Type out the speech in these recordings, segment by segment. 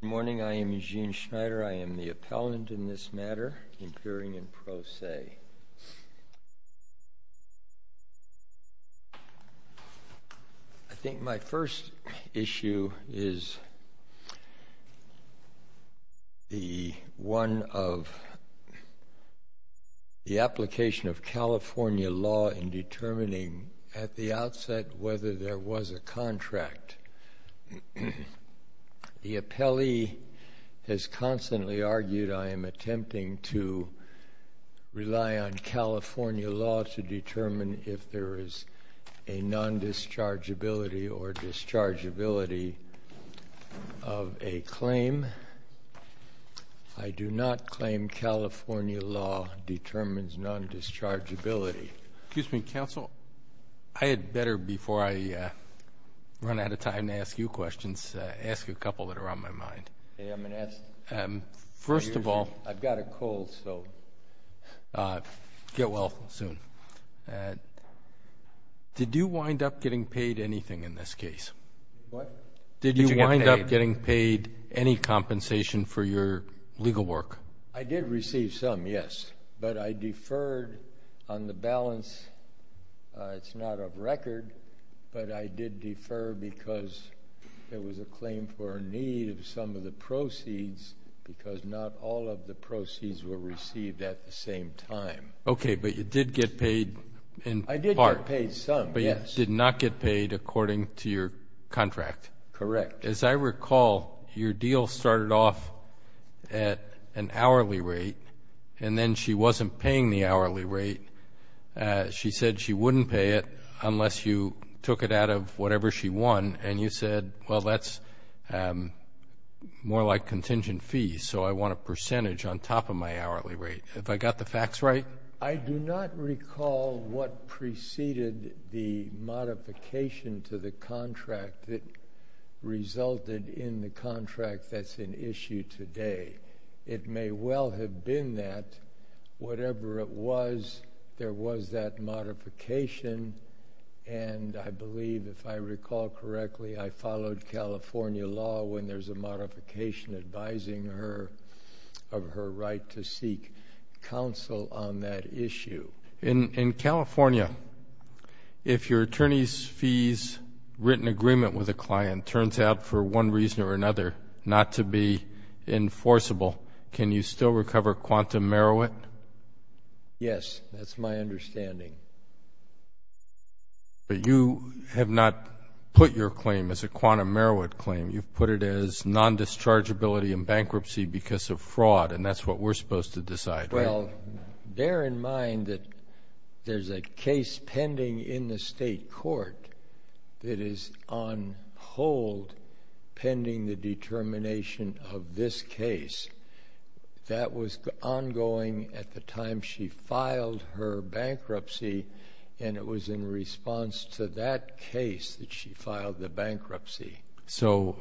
Good morning. I am Eugene Schneider. I am the appellant in this matter, appearing in pro se. I think my first issue is the one of the application of California law in determining at the outset whether there was a contract. The appellee has constantly argued I am attempting to rely on California law to determine if there is a non-dischargeability or dischargeability of a claim. I do not claim California law determines non-dischargeability. Excuse me, counsel. I had better, before I run out of time to ask you questions, ask a couple that are on my mind. First of all, I have a cold, so get well soon. Did you wind up getting paid anything in this case? What? Did you wind up getting paid any compensation for your legal work? I did receive some, yes, but I deferred on the balance. It is not of record, but I did defer because it was a claim for a need of some of the proceeds because not all of the proceeds were received at the same time. Okay, but you did get paid in part. I did get paid some, yes. But you did not get paid according to your contract. Correct. As I recall, your deal started off at an hourly rate, and then she wasn't paying the hourly rate. She said she wouldn't pay it unless you took it out of whatever she won, and you said, well, that's more like contingent fees, so I want a percentage on top of my hourly rate. Have I got the facts right? I do not recall what preceded the modification to the contract that resulted in the contract that's in issue today. It may well have been that. Whatever it was, there was that modification, and I believe, if I recall correctly, I followed California law when there's a modification advising her of her right to seek counsel on that issue. In California, if your attorney's fees written agreement with a client turns out for one reason or another not to be enforceable, can you still recover quantum merowit? Yes, that's my understanding. But you have not put your claim as a quantum merowit claim. You've put it as non-dischargeability in bankruptcy because of fraud, and that's what we're supposed to decide, right? Well, bear in mind that there's a case pending in the state court that is on hold pending the determination of this case. That was ongoing at the time she filed her bankruptcy, and it was in response to that case that she filed the bankruptcy. So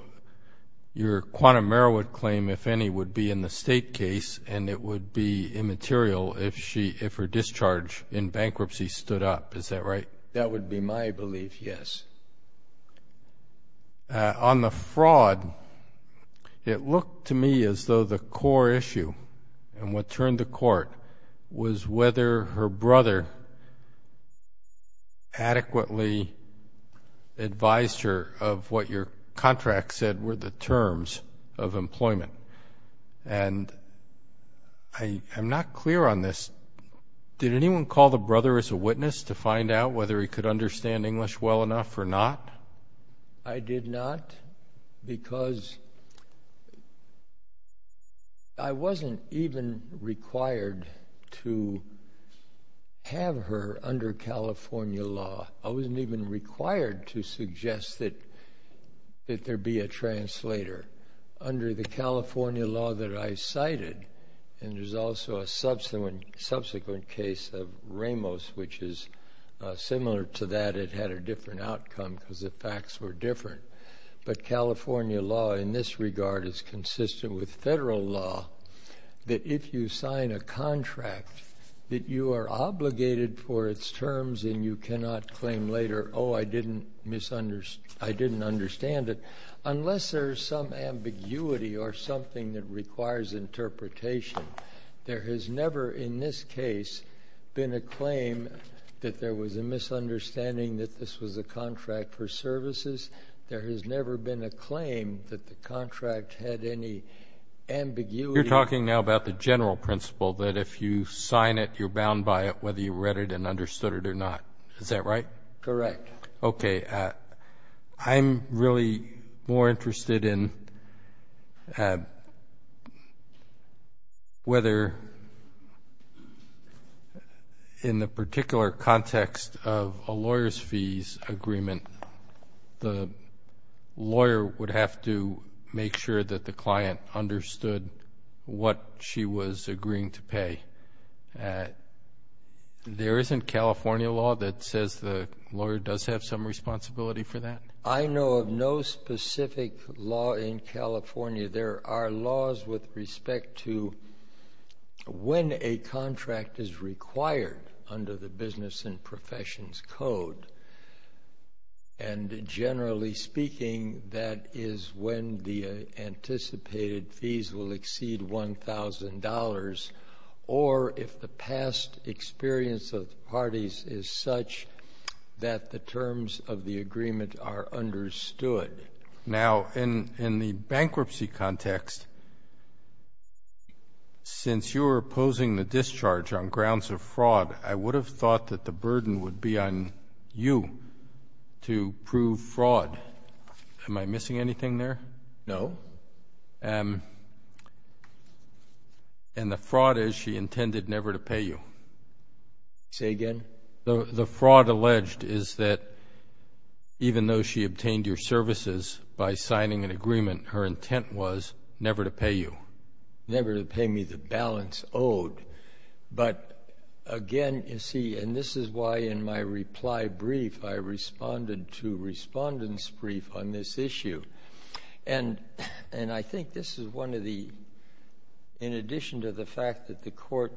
your quantum merowit claim, if any, would be in the state case, and it would be immaterial if her discharge in bankruptcy stood up. Is that right? That would be my belief, yes. On the fraud, it looked to me as though the core issue and what turned the court was whether her brother adequately advised her of what your contract said were the terms of employment. And I'm not clear on this. Did anyone call the brother as a witness to find out whether he could understand English well enough or not? I did not because I wasn't even required to have her under California law. I wasn't even required to suggest that there be a translator. Under the California law that I cited, and there's also a subsequent case of Ramos, which is similar to that. It had a different outcome because the facts were different. But California law in this regard is consistent with federal law that if you sign a contract that you are obligated for its terms and you cannot claim later, oh, I didn't understand it, unless there's some ambiguity or something that requires interpretation. There has never in this case been a claim that there was a misunderstanding that this was a contract for services. There has never been a claim that the contract had any ambiguity. You're talking now about the general principle that if you sign it, you're bound by it whether you read it and understood it or not. Is that right? Correct. Okay. I'm really more interested in whether in the particular context of a lawyer's fees agreement, the lawyer would have to make sure that the client understood what she was agreeing to pay. There isn't California law that says the lawyer does have some responsibility for that? I know of no specific law in California. There are laws with respect to when a contract is required under the Business and Professions Code. And generally speaking, that is when the anticipated fees will exceed $1,000 or if the past experience of the parties is such that the terms of the agreement are understood. Now, in the bankruptcy context, since you're opposing the discharge on grounds of fraud, I would have thought that the burden would be on you to prove fraud. Am I missing anything there? No. And the fraud is she intended never to pay you? Say again? The fraud alleged is that even though she obtained your services by signing an agreement, her intent was never to pay you. Never to pay me the balance owed. But, again, you see, and this is why in my reply brief I responded to Respondent's Brief on this issue. And I think this is one of the, in addition to the fact that the Court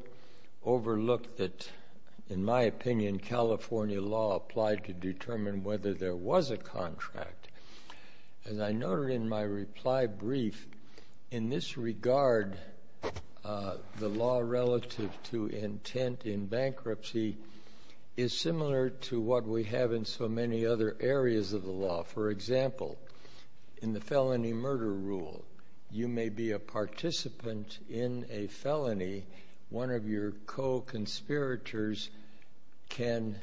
overlooked that, in my opinion, California law applied to determine whether there was a contract. As I noted in my reply brief, in this regard, the law relative to intent in bankruptcy is similar to what we have in so many other areas of the law. For example, in the felony murder rule, you may be a participant in a felony. One of your co-conspirators can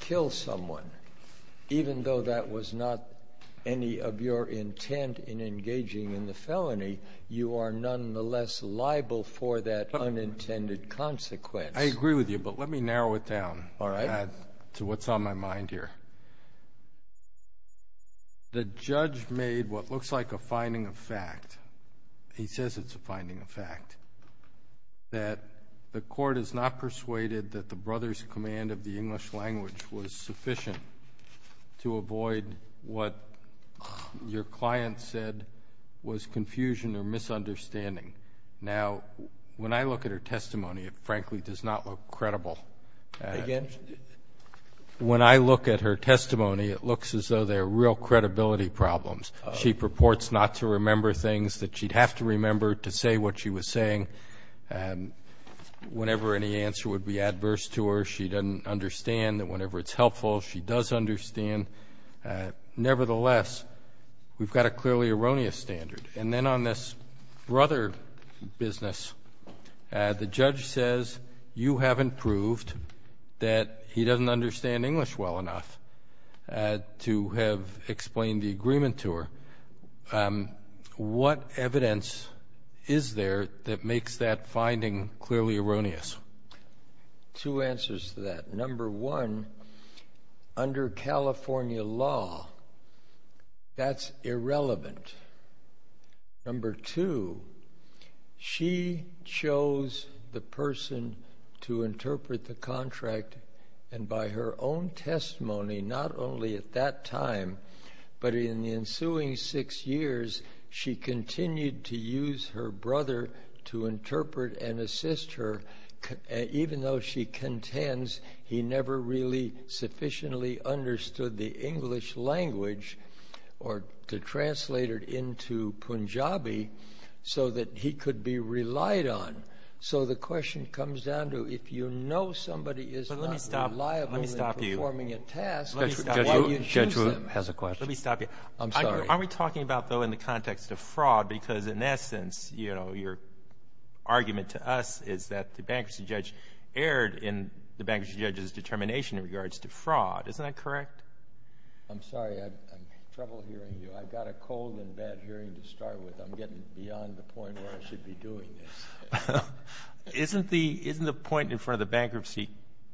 kill someone. Even though that was not any of your intent in engaging in the felony, you are nonetheless liable for that unintended consequence. I agree with you, but let me narrow it down to what's on my mind here. The judge made what looks like a finding of fact. He says it's a finding of fact, that the Court is not persuaded that the brother's command of the English language was sufficient to avoid what your client said was confusion or misunderstanding. Now, when I look at her testimony, it frankly does not look credible. Again? When I look at her testimony, it looks as though there are real credibility problems. She purports not to remember things that she'd have to remember to say what she was saying. Whenever any answer would be adverse to her, she doesn't understand that whenever it's helpful, she does understand. Nevertheless, we've got a clearly erroneous standard. And then on this brother business, the judge says you haven't proved that he doesn't understand English well enough to have explained the agreement to her. What evidence is there that makes that finding clearly erroneous? Two answers to that. Number one, under California law, that's irrelevant. Number two, she chose the person to interpret the contract and by her own testimony, not only at that time, but in the ensuing six years, she continued to use her brother to interpret and assist her even though she contends he never really sufficiently understood the English language or to translate it into Punjabi so that he could be relied on. So the question comes down to if you know somebody is not reliable in performing a task, why do you choose them? That has a question. Let me stop you. I'm sorry. Are we talking about, though, in the context of fraud? Because in essence, you know, your argument to us is that the bankruptcy judge erred in the bankruptcy judge's determination in regards to fraud. Isn't that correct? I'm sorry. I have trouble hearing you. I've got a cold and bad hearing to start with. I'm getting beyond the point where I should be doing this. Isn't the point in front of the bankruptcy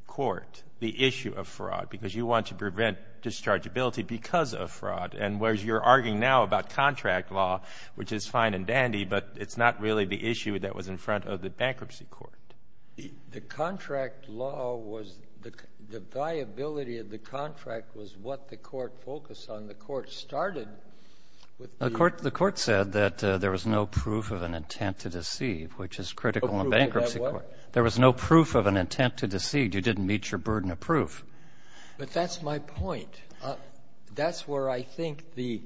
court the issue of fraud? Because you want to prevent dischargeability because of fraud. And whereas you're arguing now about contract law, which is fine and dandy, but it's not really the issue that was in front of the bankruptcy court. The contract law was the viability of the contract was what the court focused on. The court said that there was no proof of an intent to deceive, which is critical in bankruptcy court. There was no proof of an intent to deceive. You didn't meet your burden of proof. But that's my point. That's where I think the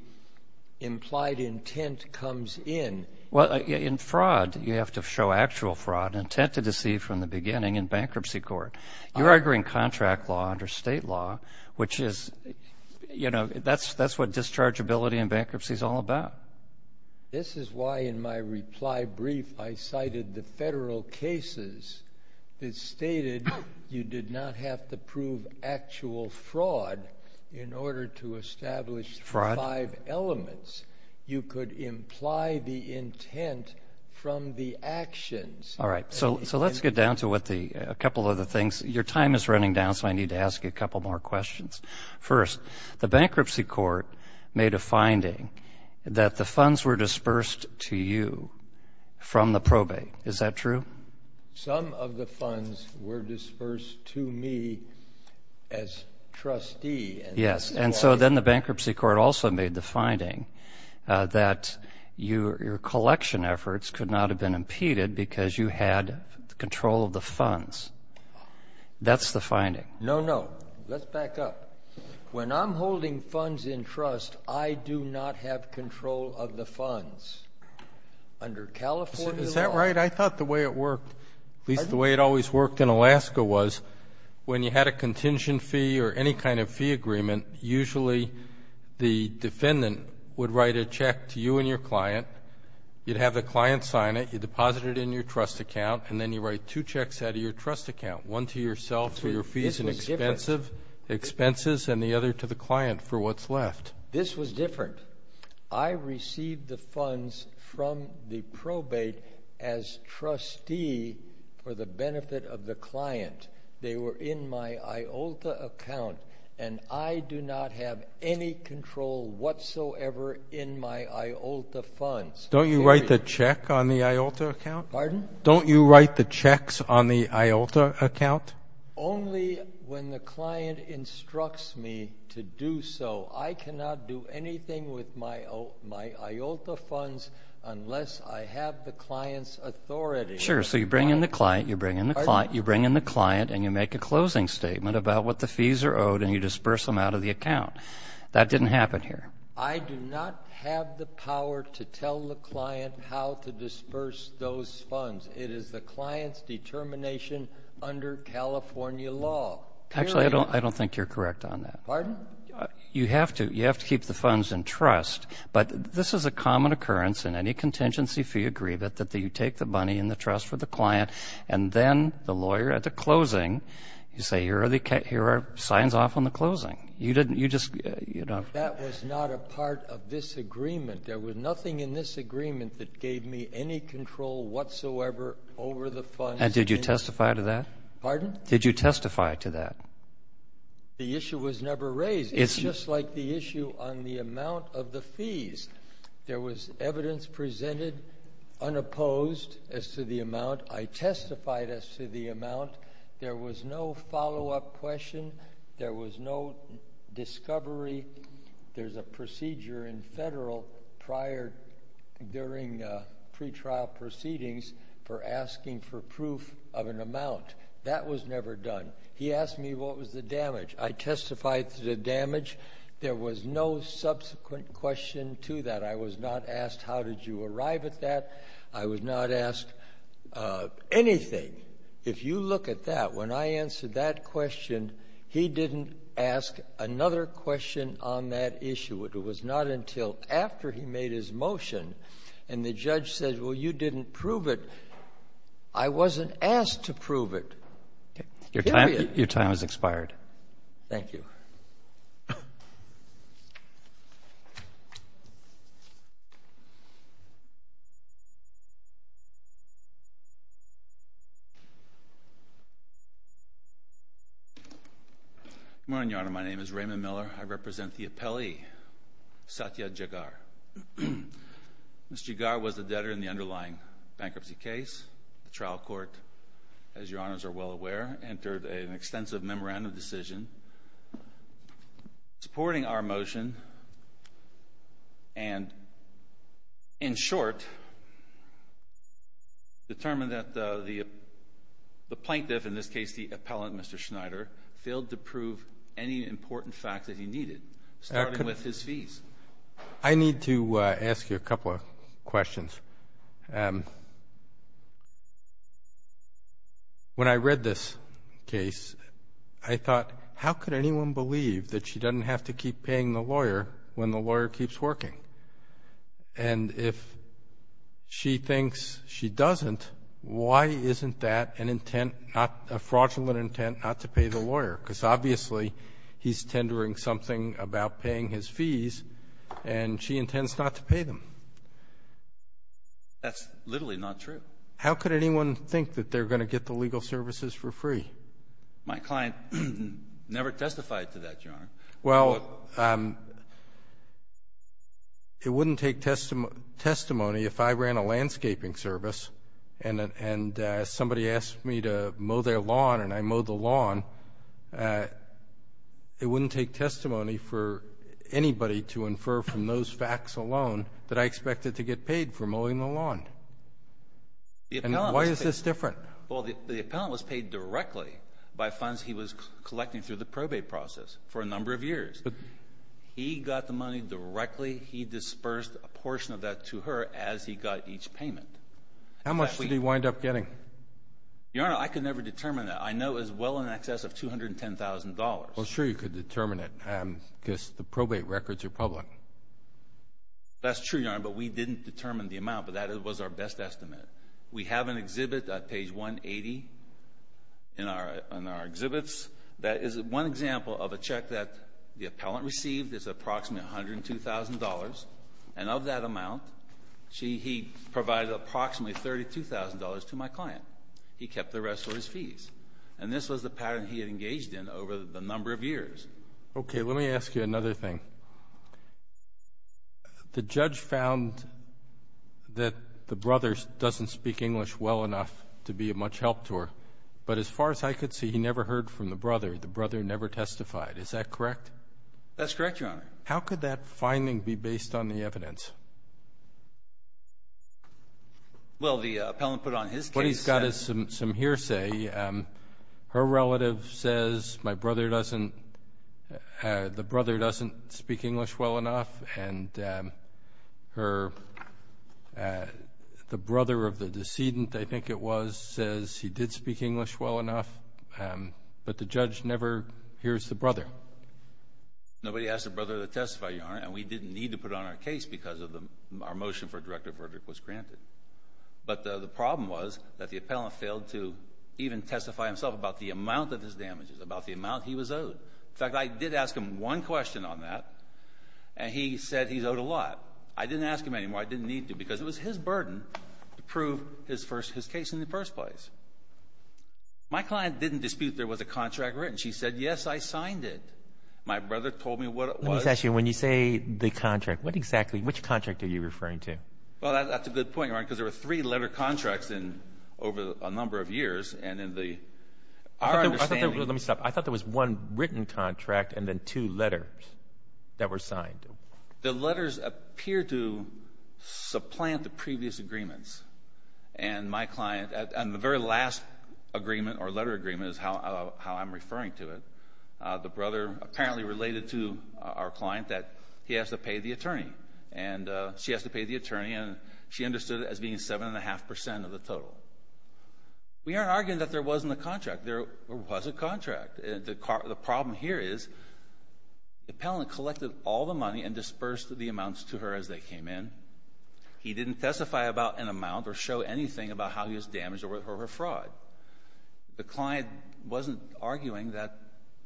implied intent comes in. Well, in fraud, you have to show actual fraud, intent to deceive from the beginning in bankruptcy court. You're arguing contract law under state law, which is, you know, that's what dischargeability in bankruptcy is all about. This is why in my reply brief I cited the federal cases that stated you did not have to prove actual fraud in order to establish five elements. You could imply the intent from the actions. All right. So let's get down to a couple of other things. Your time is running down, so I need to ask you a couple more questions. First, the bankruptcy court made a finding that the funds were dispersed to you from the probate. Is that true? Some of the funds were dispersed to me as trustee. Yes. And so then the bankruptcy court also made the finding that your collection efforts could not have been impeded because you had control of the funds. That's the finding. No, no. Let's back up. When I'm holding funds in trust, I do not have control of the funds. Under California law. Is that right? At least the way it always worked in Alaska was when you had a contingent fee or any kind of fee agreement, usually the defendant would write a check to you and your client. You'd have the client sign it. You'd deposit it in your trust account, and then you write two checks out of your trust account, one to yourself for your fees and expenses and the other to the client for what's left. This was different. I received the funds from the probate as trustee for the benefit of the client. They were in my IOLTA account, and I do not have any control whatsoever in my IOLTA funds. Don't you write the check on the IOLTA account? Pardon? Don't you write the checks on the IOLTA account? Only when the client instructs me to do so. I cannot do anything with my IOLTA funds unless I have the client's authority. Sure, so you bring in the client, you bring in the client, you bring in the client, and you make a closing statement about what the fees are owed, and you disperse them out of the account. That didn't happen here. I do not have the power to tell the client how to disperse those funds. It is the client's determination under California law. Actually, I don't think you're correct on that. Pardon? You have to. You have to keep the funds in trust, but this is a common occurrence in any contingency fee agreement that you take the money in the trust for the client, and then the lawyer at the closing, you say, here are signs off on the closing. You didn't, you just, you know. That was not a part of this agreement. There was nothing in this agreement that gave me any control whatsoever over the funds. And did you testify to that? Pardon? Did you testify to that? The issue was never raised. It's just like the issue on the amount of the fees. There was evidence presented unopposed as to the amount. I testified as to the amount. There was no follow-up question. There was no discovery. There's a procedure in federal prior during pretrial proceedings for asking for proof of an amount. That was never done. He asked me what was the damage. I testified to the damage. There was no subsequent question to that. I was not asked how did you arrive at that. I was not asked anything. If you look at that, when I answered that question, he didn't ask another question on that issue. It was not until after he made his motion and the judge said, well, you didn't prove it, I wasn't asked to prove it. Period. Your time has expired. Thank you. Good morning, Your Honor. My name is Raymond Miller. I represent the appellee, Satya Jaggar. Mr. Jaggar was the debtor in the underlying bankruptcy case. The trial court, as Your Honors are well aware, entered an extensive memorandum decision. Supporting our motion and, in short, determined that the plaintiff, in this case the appellant, Mr. Schneider, failed to prove any important fact that he needed, starting with his fees. I need to ask you a couple of questions. First, when I read this case, I thought, how could anyone believe that she doesn't have to keep paying the lawyer when the lawyer keeps working? If she thinks she doesn't, why isn't that a fraudulent intent not to pay the lawyer? Because, obviously, he's tendering something about paying his fees and she intends not to pay them. That's literally not true. How could anyone think that they're going to get the legal services for free? My client never testified to that, Your Honor. Well, it wouldn't take testimony if I ran a landscaping service and somebody asked me to mow their lawn and I mowed the lawn, it wouldn't take testimony for anybody to infer from those facts alone that I expected to get paid for mowing the lawn. Why is this different? Well, the appellant was paid directly by funds he was collecting through the probate process for a number of years. He got the money directly. He dispersed a portion of that to her as he got each payment. How much did he wind up getting? Your Honor, I could never determine that. I know it was well in excess of $210,000. Well, sure you could determine it because the probate records are public. That's true, Your Honor, but we didn't determine the amount, but that was our best estimate. We have an exhibit at page 180 in our exhibits that is one example of a check that the appellant received. It's approximately $102,000, and of that amount, he provided approximately $32,000 to my client. He kept the rest for his fees. And this was the pattern he had engaged in over the number of years. Okay, let me ask you another thing. The judge found that the brother doesn't speak English well enough to be of much help to her, but as far as I could see, he never heard from the brother. The brother never testified. Is that correct? That's correct, Your Honor. How could that finding be based on the evidence? Well, the appellant put it on his case. What he's got is some hearsay. Her relative says, my brother doesn't, the brother doesn't speak English well enough, and the brother of the decedent, I think it was, says he did speak English well enough, but the judge never hears the brother. Nobody asked the brother to testify, Your Honor, and we didn't need to put it on our case because our motion for a directive verdict was granted. But the problem was that the appellant failed to even testify himself about the amount of his damages, about the amount he was owed. In fact, I did ask him one question on that, and he said he's owed a lot. I didn't ask him anymore. I didn't need to because it was his burden to prove his case in the first place. My client didn't dispute there was a contract written. She said, yes, I signed it. My brother told me what it was. Let me ask you, when you say the contract, what exactly, which contract are you referring to? Well, that's a good point, Your Honor, because there were three letter contracts over a number of years, and in our understanding. Let me stop. I thought there was one written contract and then two letters that were signed. The letters appeared to supplant the previous agreements, and the very last agreement or letter agreement is how I'm referring to it. The brother apparently related to our client that he has to pay the attorney, and she has to pay the attorney, and she understood it as being 7.5 percent of the total. We aren't arguing that there wasn't a contract. There was a contract. The problem here is the appellant collected all the money and dispersed the amounts to her as they came in. He didn't testify about an amount or show anything about how he was damaged or for fraud. The client wasn't arguing that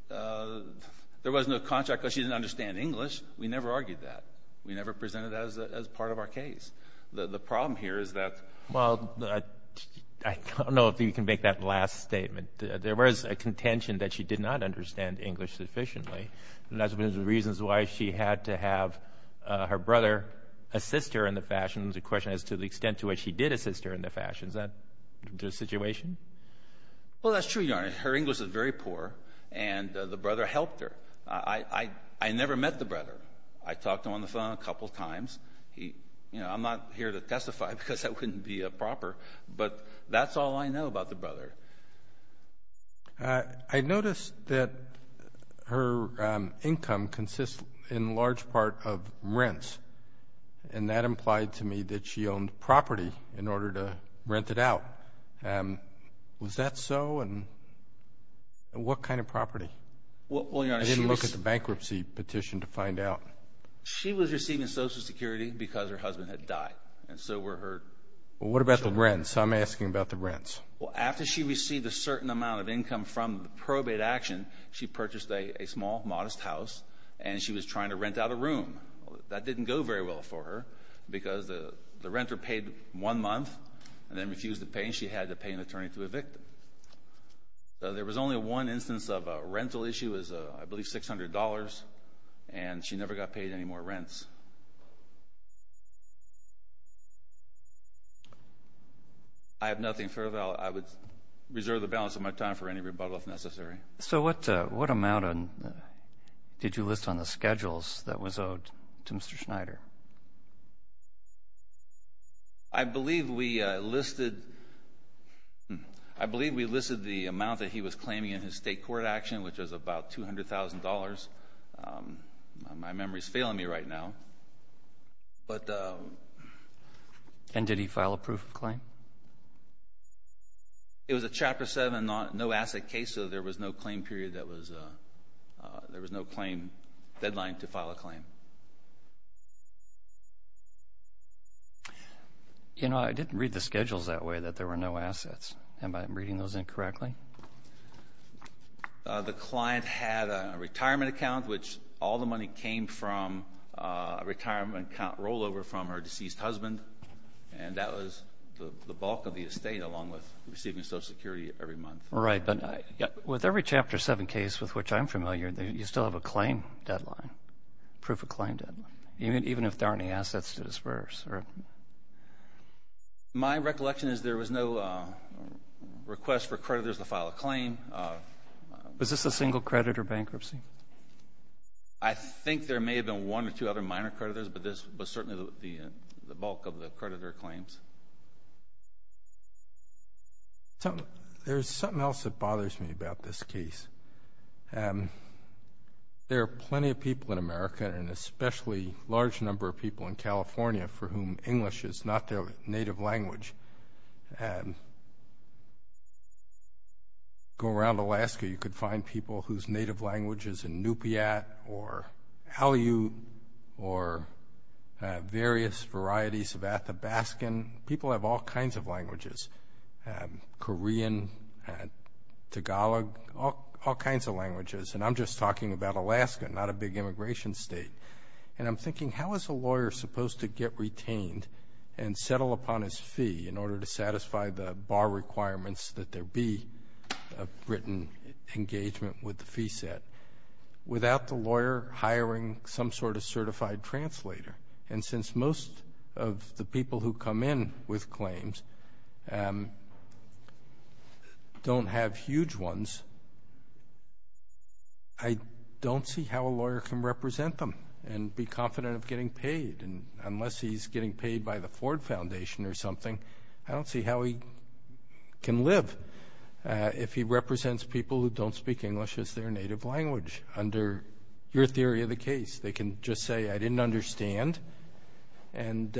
there wasn't a contract because she didn't understand English. We never argued that. We never presented that as part of our case. The problem here is that... Well, I don't know if you can make that last statement. There was a contention that she did not understand English sufficiently, and that's one of the reasons why she had to have her brother assist her in the fashion. The question is to the extent to which he did assist her in the fashion. Is that the situation? Well, that's true, Your Honor. Her English is very poor, and the brother helped her. I never met the brother. I talked to him on the phone a couple times. I'm not here to testify because that wouldn't be proper, but that's all I know about the brother. I noticed that her income consists in large part of rents, and that implied to me that she owned property in order to rent it out. Was that so, and what kind of property? Well, Your Honor, she was... I didn't look at the bankruptcy petition to find out. She was receiving Social Security because her husband had died, and so were her children. Well, what about the rents? I'm asking about the rents. Well, after she received a certain amount of income from the probate action, she purchased a small, modest house, and she was trying to rent out a room. That didn't go very well for her because the renter paid one month and then refused to pay, and she had to pay an attorney to evict them. There was only one instance of a rental issue. It was, I believe, $600, and she never got paid any more rents. I have nothing further. I would reserve the balance of my time for any rebuttal if necessary. So what amount did you list on the schedules that was owed to Mr. Schneider? I believe we listed the amount that he was claiming in his state court action, which was about $200,000. My memory is failing me right now. And did he file a proof of claim? It was a Chapter 7, no-asset case, so there was no claim deadline to file a claim. I didn't read the schedules that way, that there were no assets. Am I reading those incorrectly? The client had a retirement account, which all the money came from a retirement account rollover from her deceased husband, and that was the bulk of the estate along with receiving Social Security every month. Right, but with every Chapter 7 case with which I'm familiar, you still have a claim deadline, proof of claim deadline, even if there aren't any assets to disperse. My recollection is there was no request for creditors to file a claim. Was this a single credit or bankruptcy? I think there may have been one or two other minor creditors, but this was certainly the bulk of the creditor claims. There's something else that bothers me about this case. There are plenty of people in America, and especially a large number of people in California, for whom English is not their native language. Go around Alaska, you could find people whose native language is Inupiat or Aleut or various varieties of Athabaskan. People have all kinds of languages, Korean, Tagalog, all kinds of languages, and I'm just talking about Alaska, not a big immigration state. And I'm thinking, how is a lawyer supposed to get retained and settle upon his fee in order to satisfy the bar requirements that there be a written engagement with the fee set without the lawyer hiring some sort of certified translator? And since most of the people who come in with claims don't have huge ones, I don't see how a lawyer can represent them and be confident of getting paid. Unless he's getting paid by the Ford Foundation or something, I don't see how he can live if he represents people who don't speak English as their native language under your theory of the case. They can just say, I didn't understand, and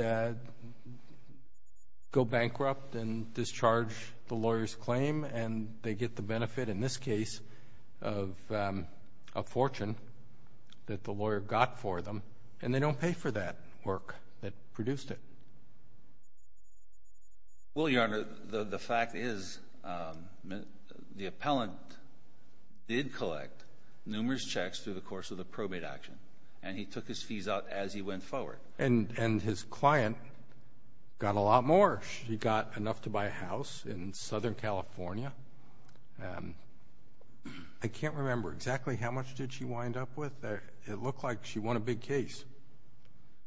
go bankrupt and discharge the lawyer's claim, and they get the benefit in this case of a fortune that the lawyer got for them, and they don't pay for that work that produced it. Well, Your Honor, the fact is the appellant did collect numerous checks through the course of the probate action, and he took his fees out as he went forward. And his client got a lot more. She got enough to buy a house in Southern California. I can't remember exactly how much did she wind up with. It looked like she won a big case.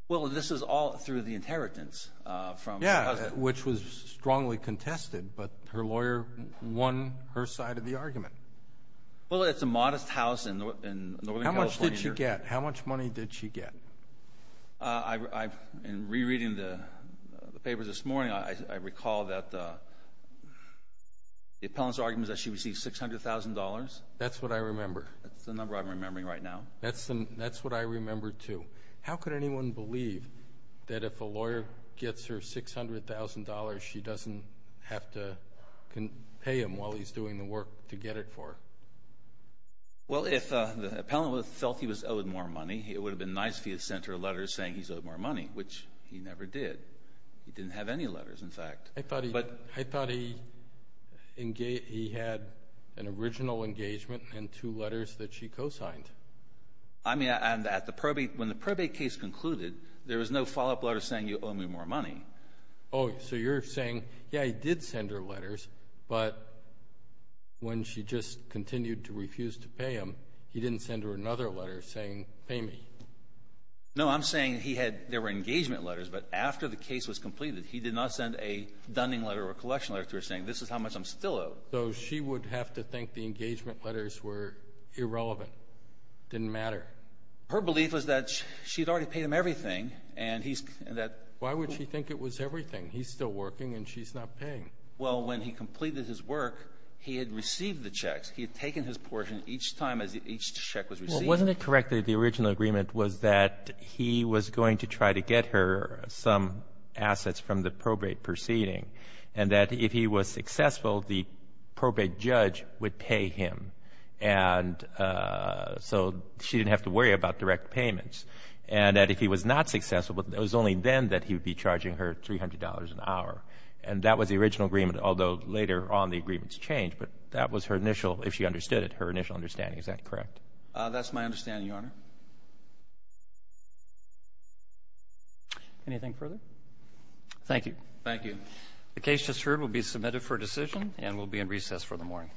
Well, this is all through the inheritance from her husband. Yeah, which was strongly contested, but her lawyer won her side of the argument. Well, it's a modest house in Northern California. How much did she get? How much money did she get? In rereading the papers this morning, I recall that the appellant's argument was that she received $600,000. That's what I remember. That's the number I'm remembering right now. That's what I remember, too. How could anyone believe that if a lawyer gets her $600,000, she doesn't have to pay him while he's doing the work to get it for her? Well, if the appellant felt he was owed more money, it would have been nice if he had sent her letters saying he's owed more money, which he never did. He didn't have any letters, in fact. I thought he had an original engagement and two letters that she co-signed. I mean, when the probate case concluded, there was no follow-up letter saying you owe me more money. Oh, so you're saying, yeah, he did send her letters, but when she just continued to refuse to pay him, he didn't send her another letter saying, pay me. No, I'm saying there were engagement letters, but after the case was completed, he did not send a dunning letter or a collection letter to her saying, this is how much I'm still owed. So she would have to think the engagement letters were irrelevant, didn't matter. Her belief was that she had already paid him everything. Why would she think it was everything? He's still working and she's not paying. Well, when he completed his work, he had received the checks. He had taken his portion each time each check was received. Well, wasn't it correct that the original agreement was that he was going to try to get her some assets from the probate proceeding, and that if he was successful, the probate judge would pay him, and so she didn't have to worry about direct payments, and that if he was not successful, it was only then that he would be charging her $300 an hour. And that was the original agreement, although later on the agreements changed, but that was her initial, if she understood it, her initial understanding. Is that correct? That's my understanding, Your Honor. Anything further? Thank you. Thank you. The case just heard will be submitted for decision and will be in recess for the morning. All rise.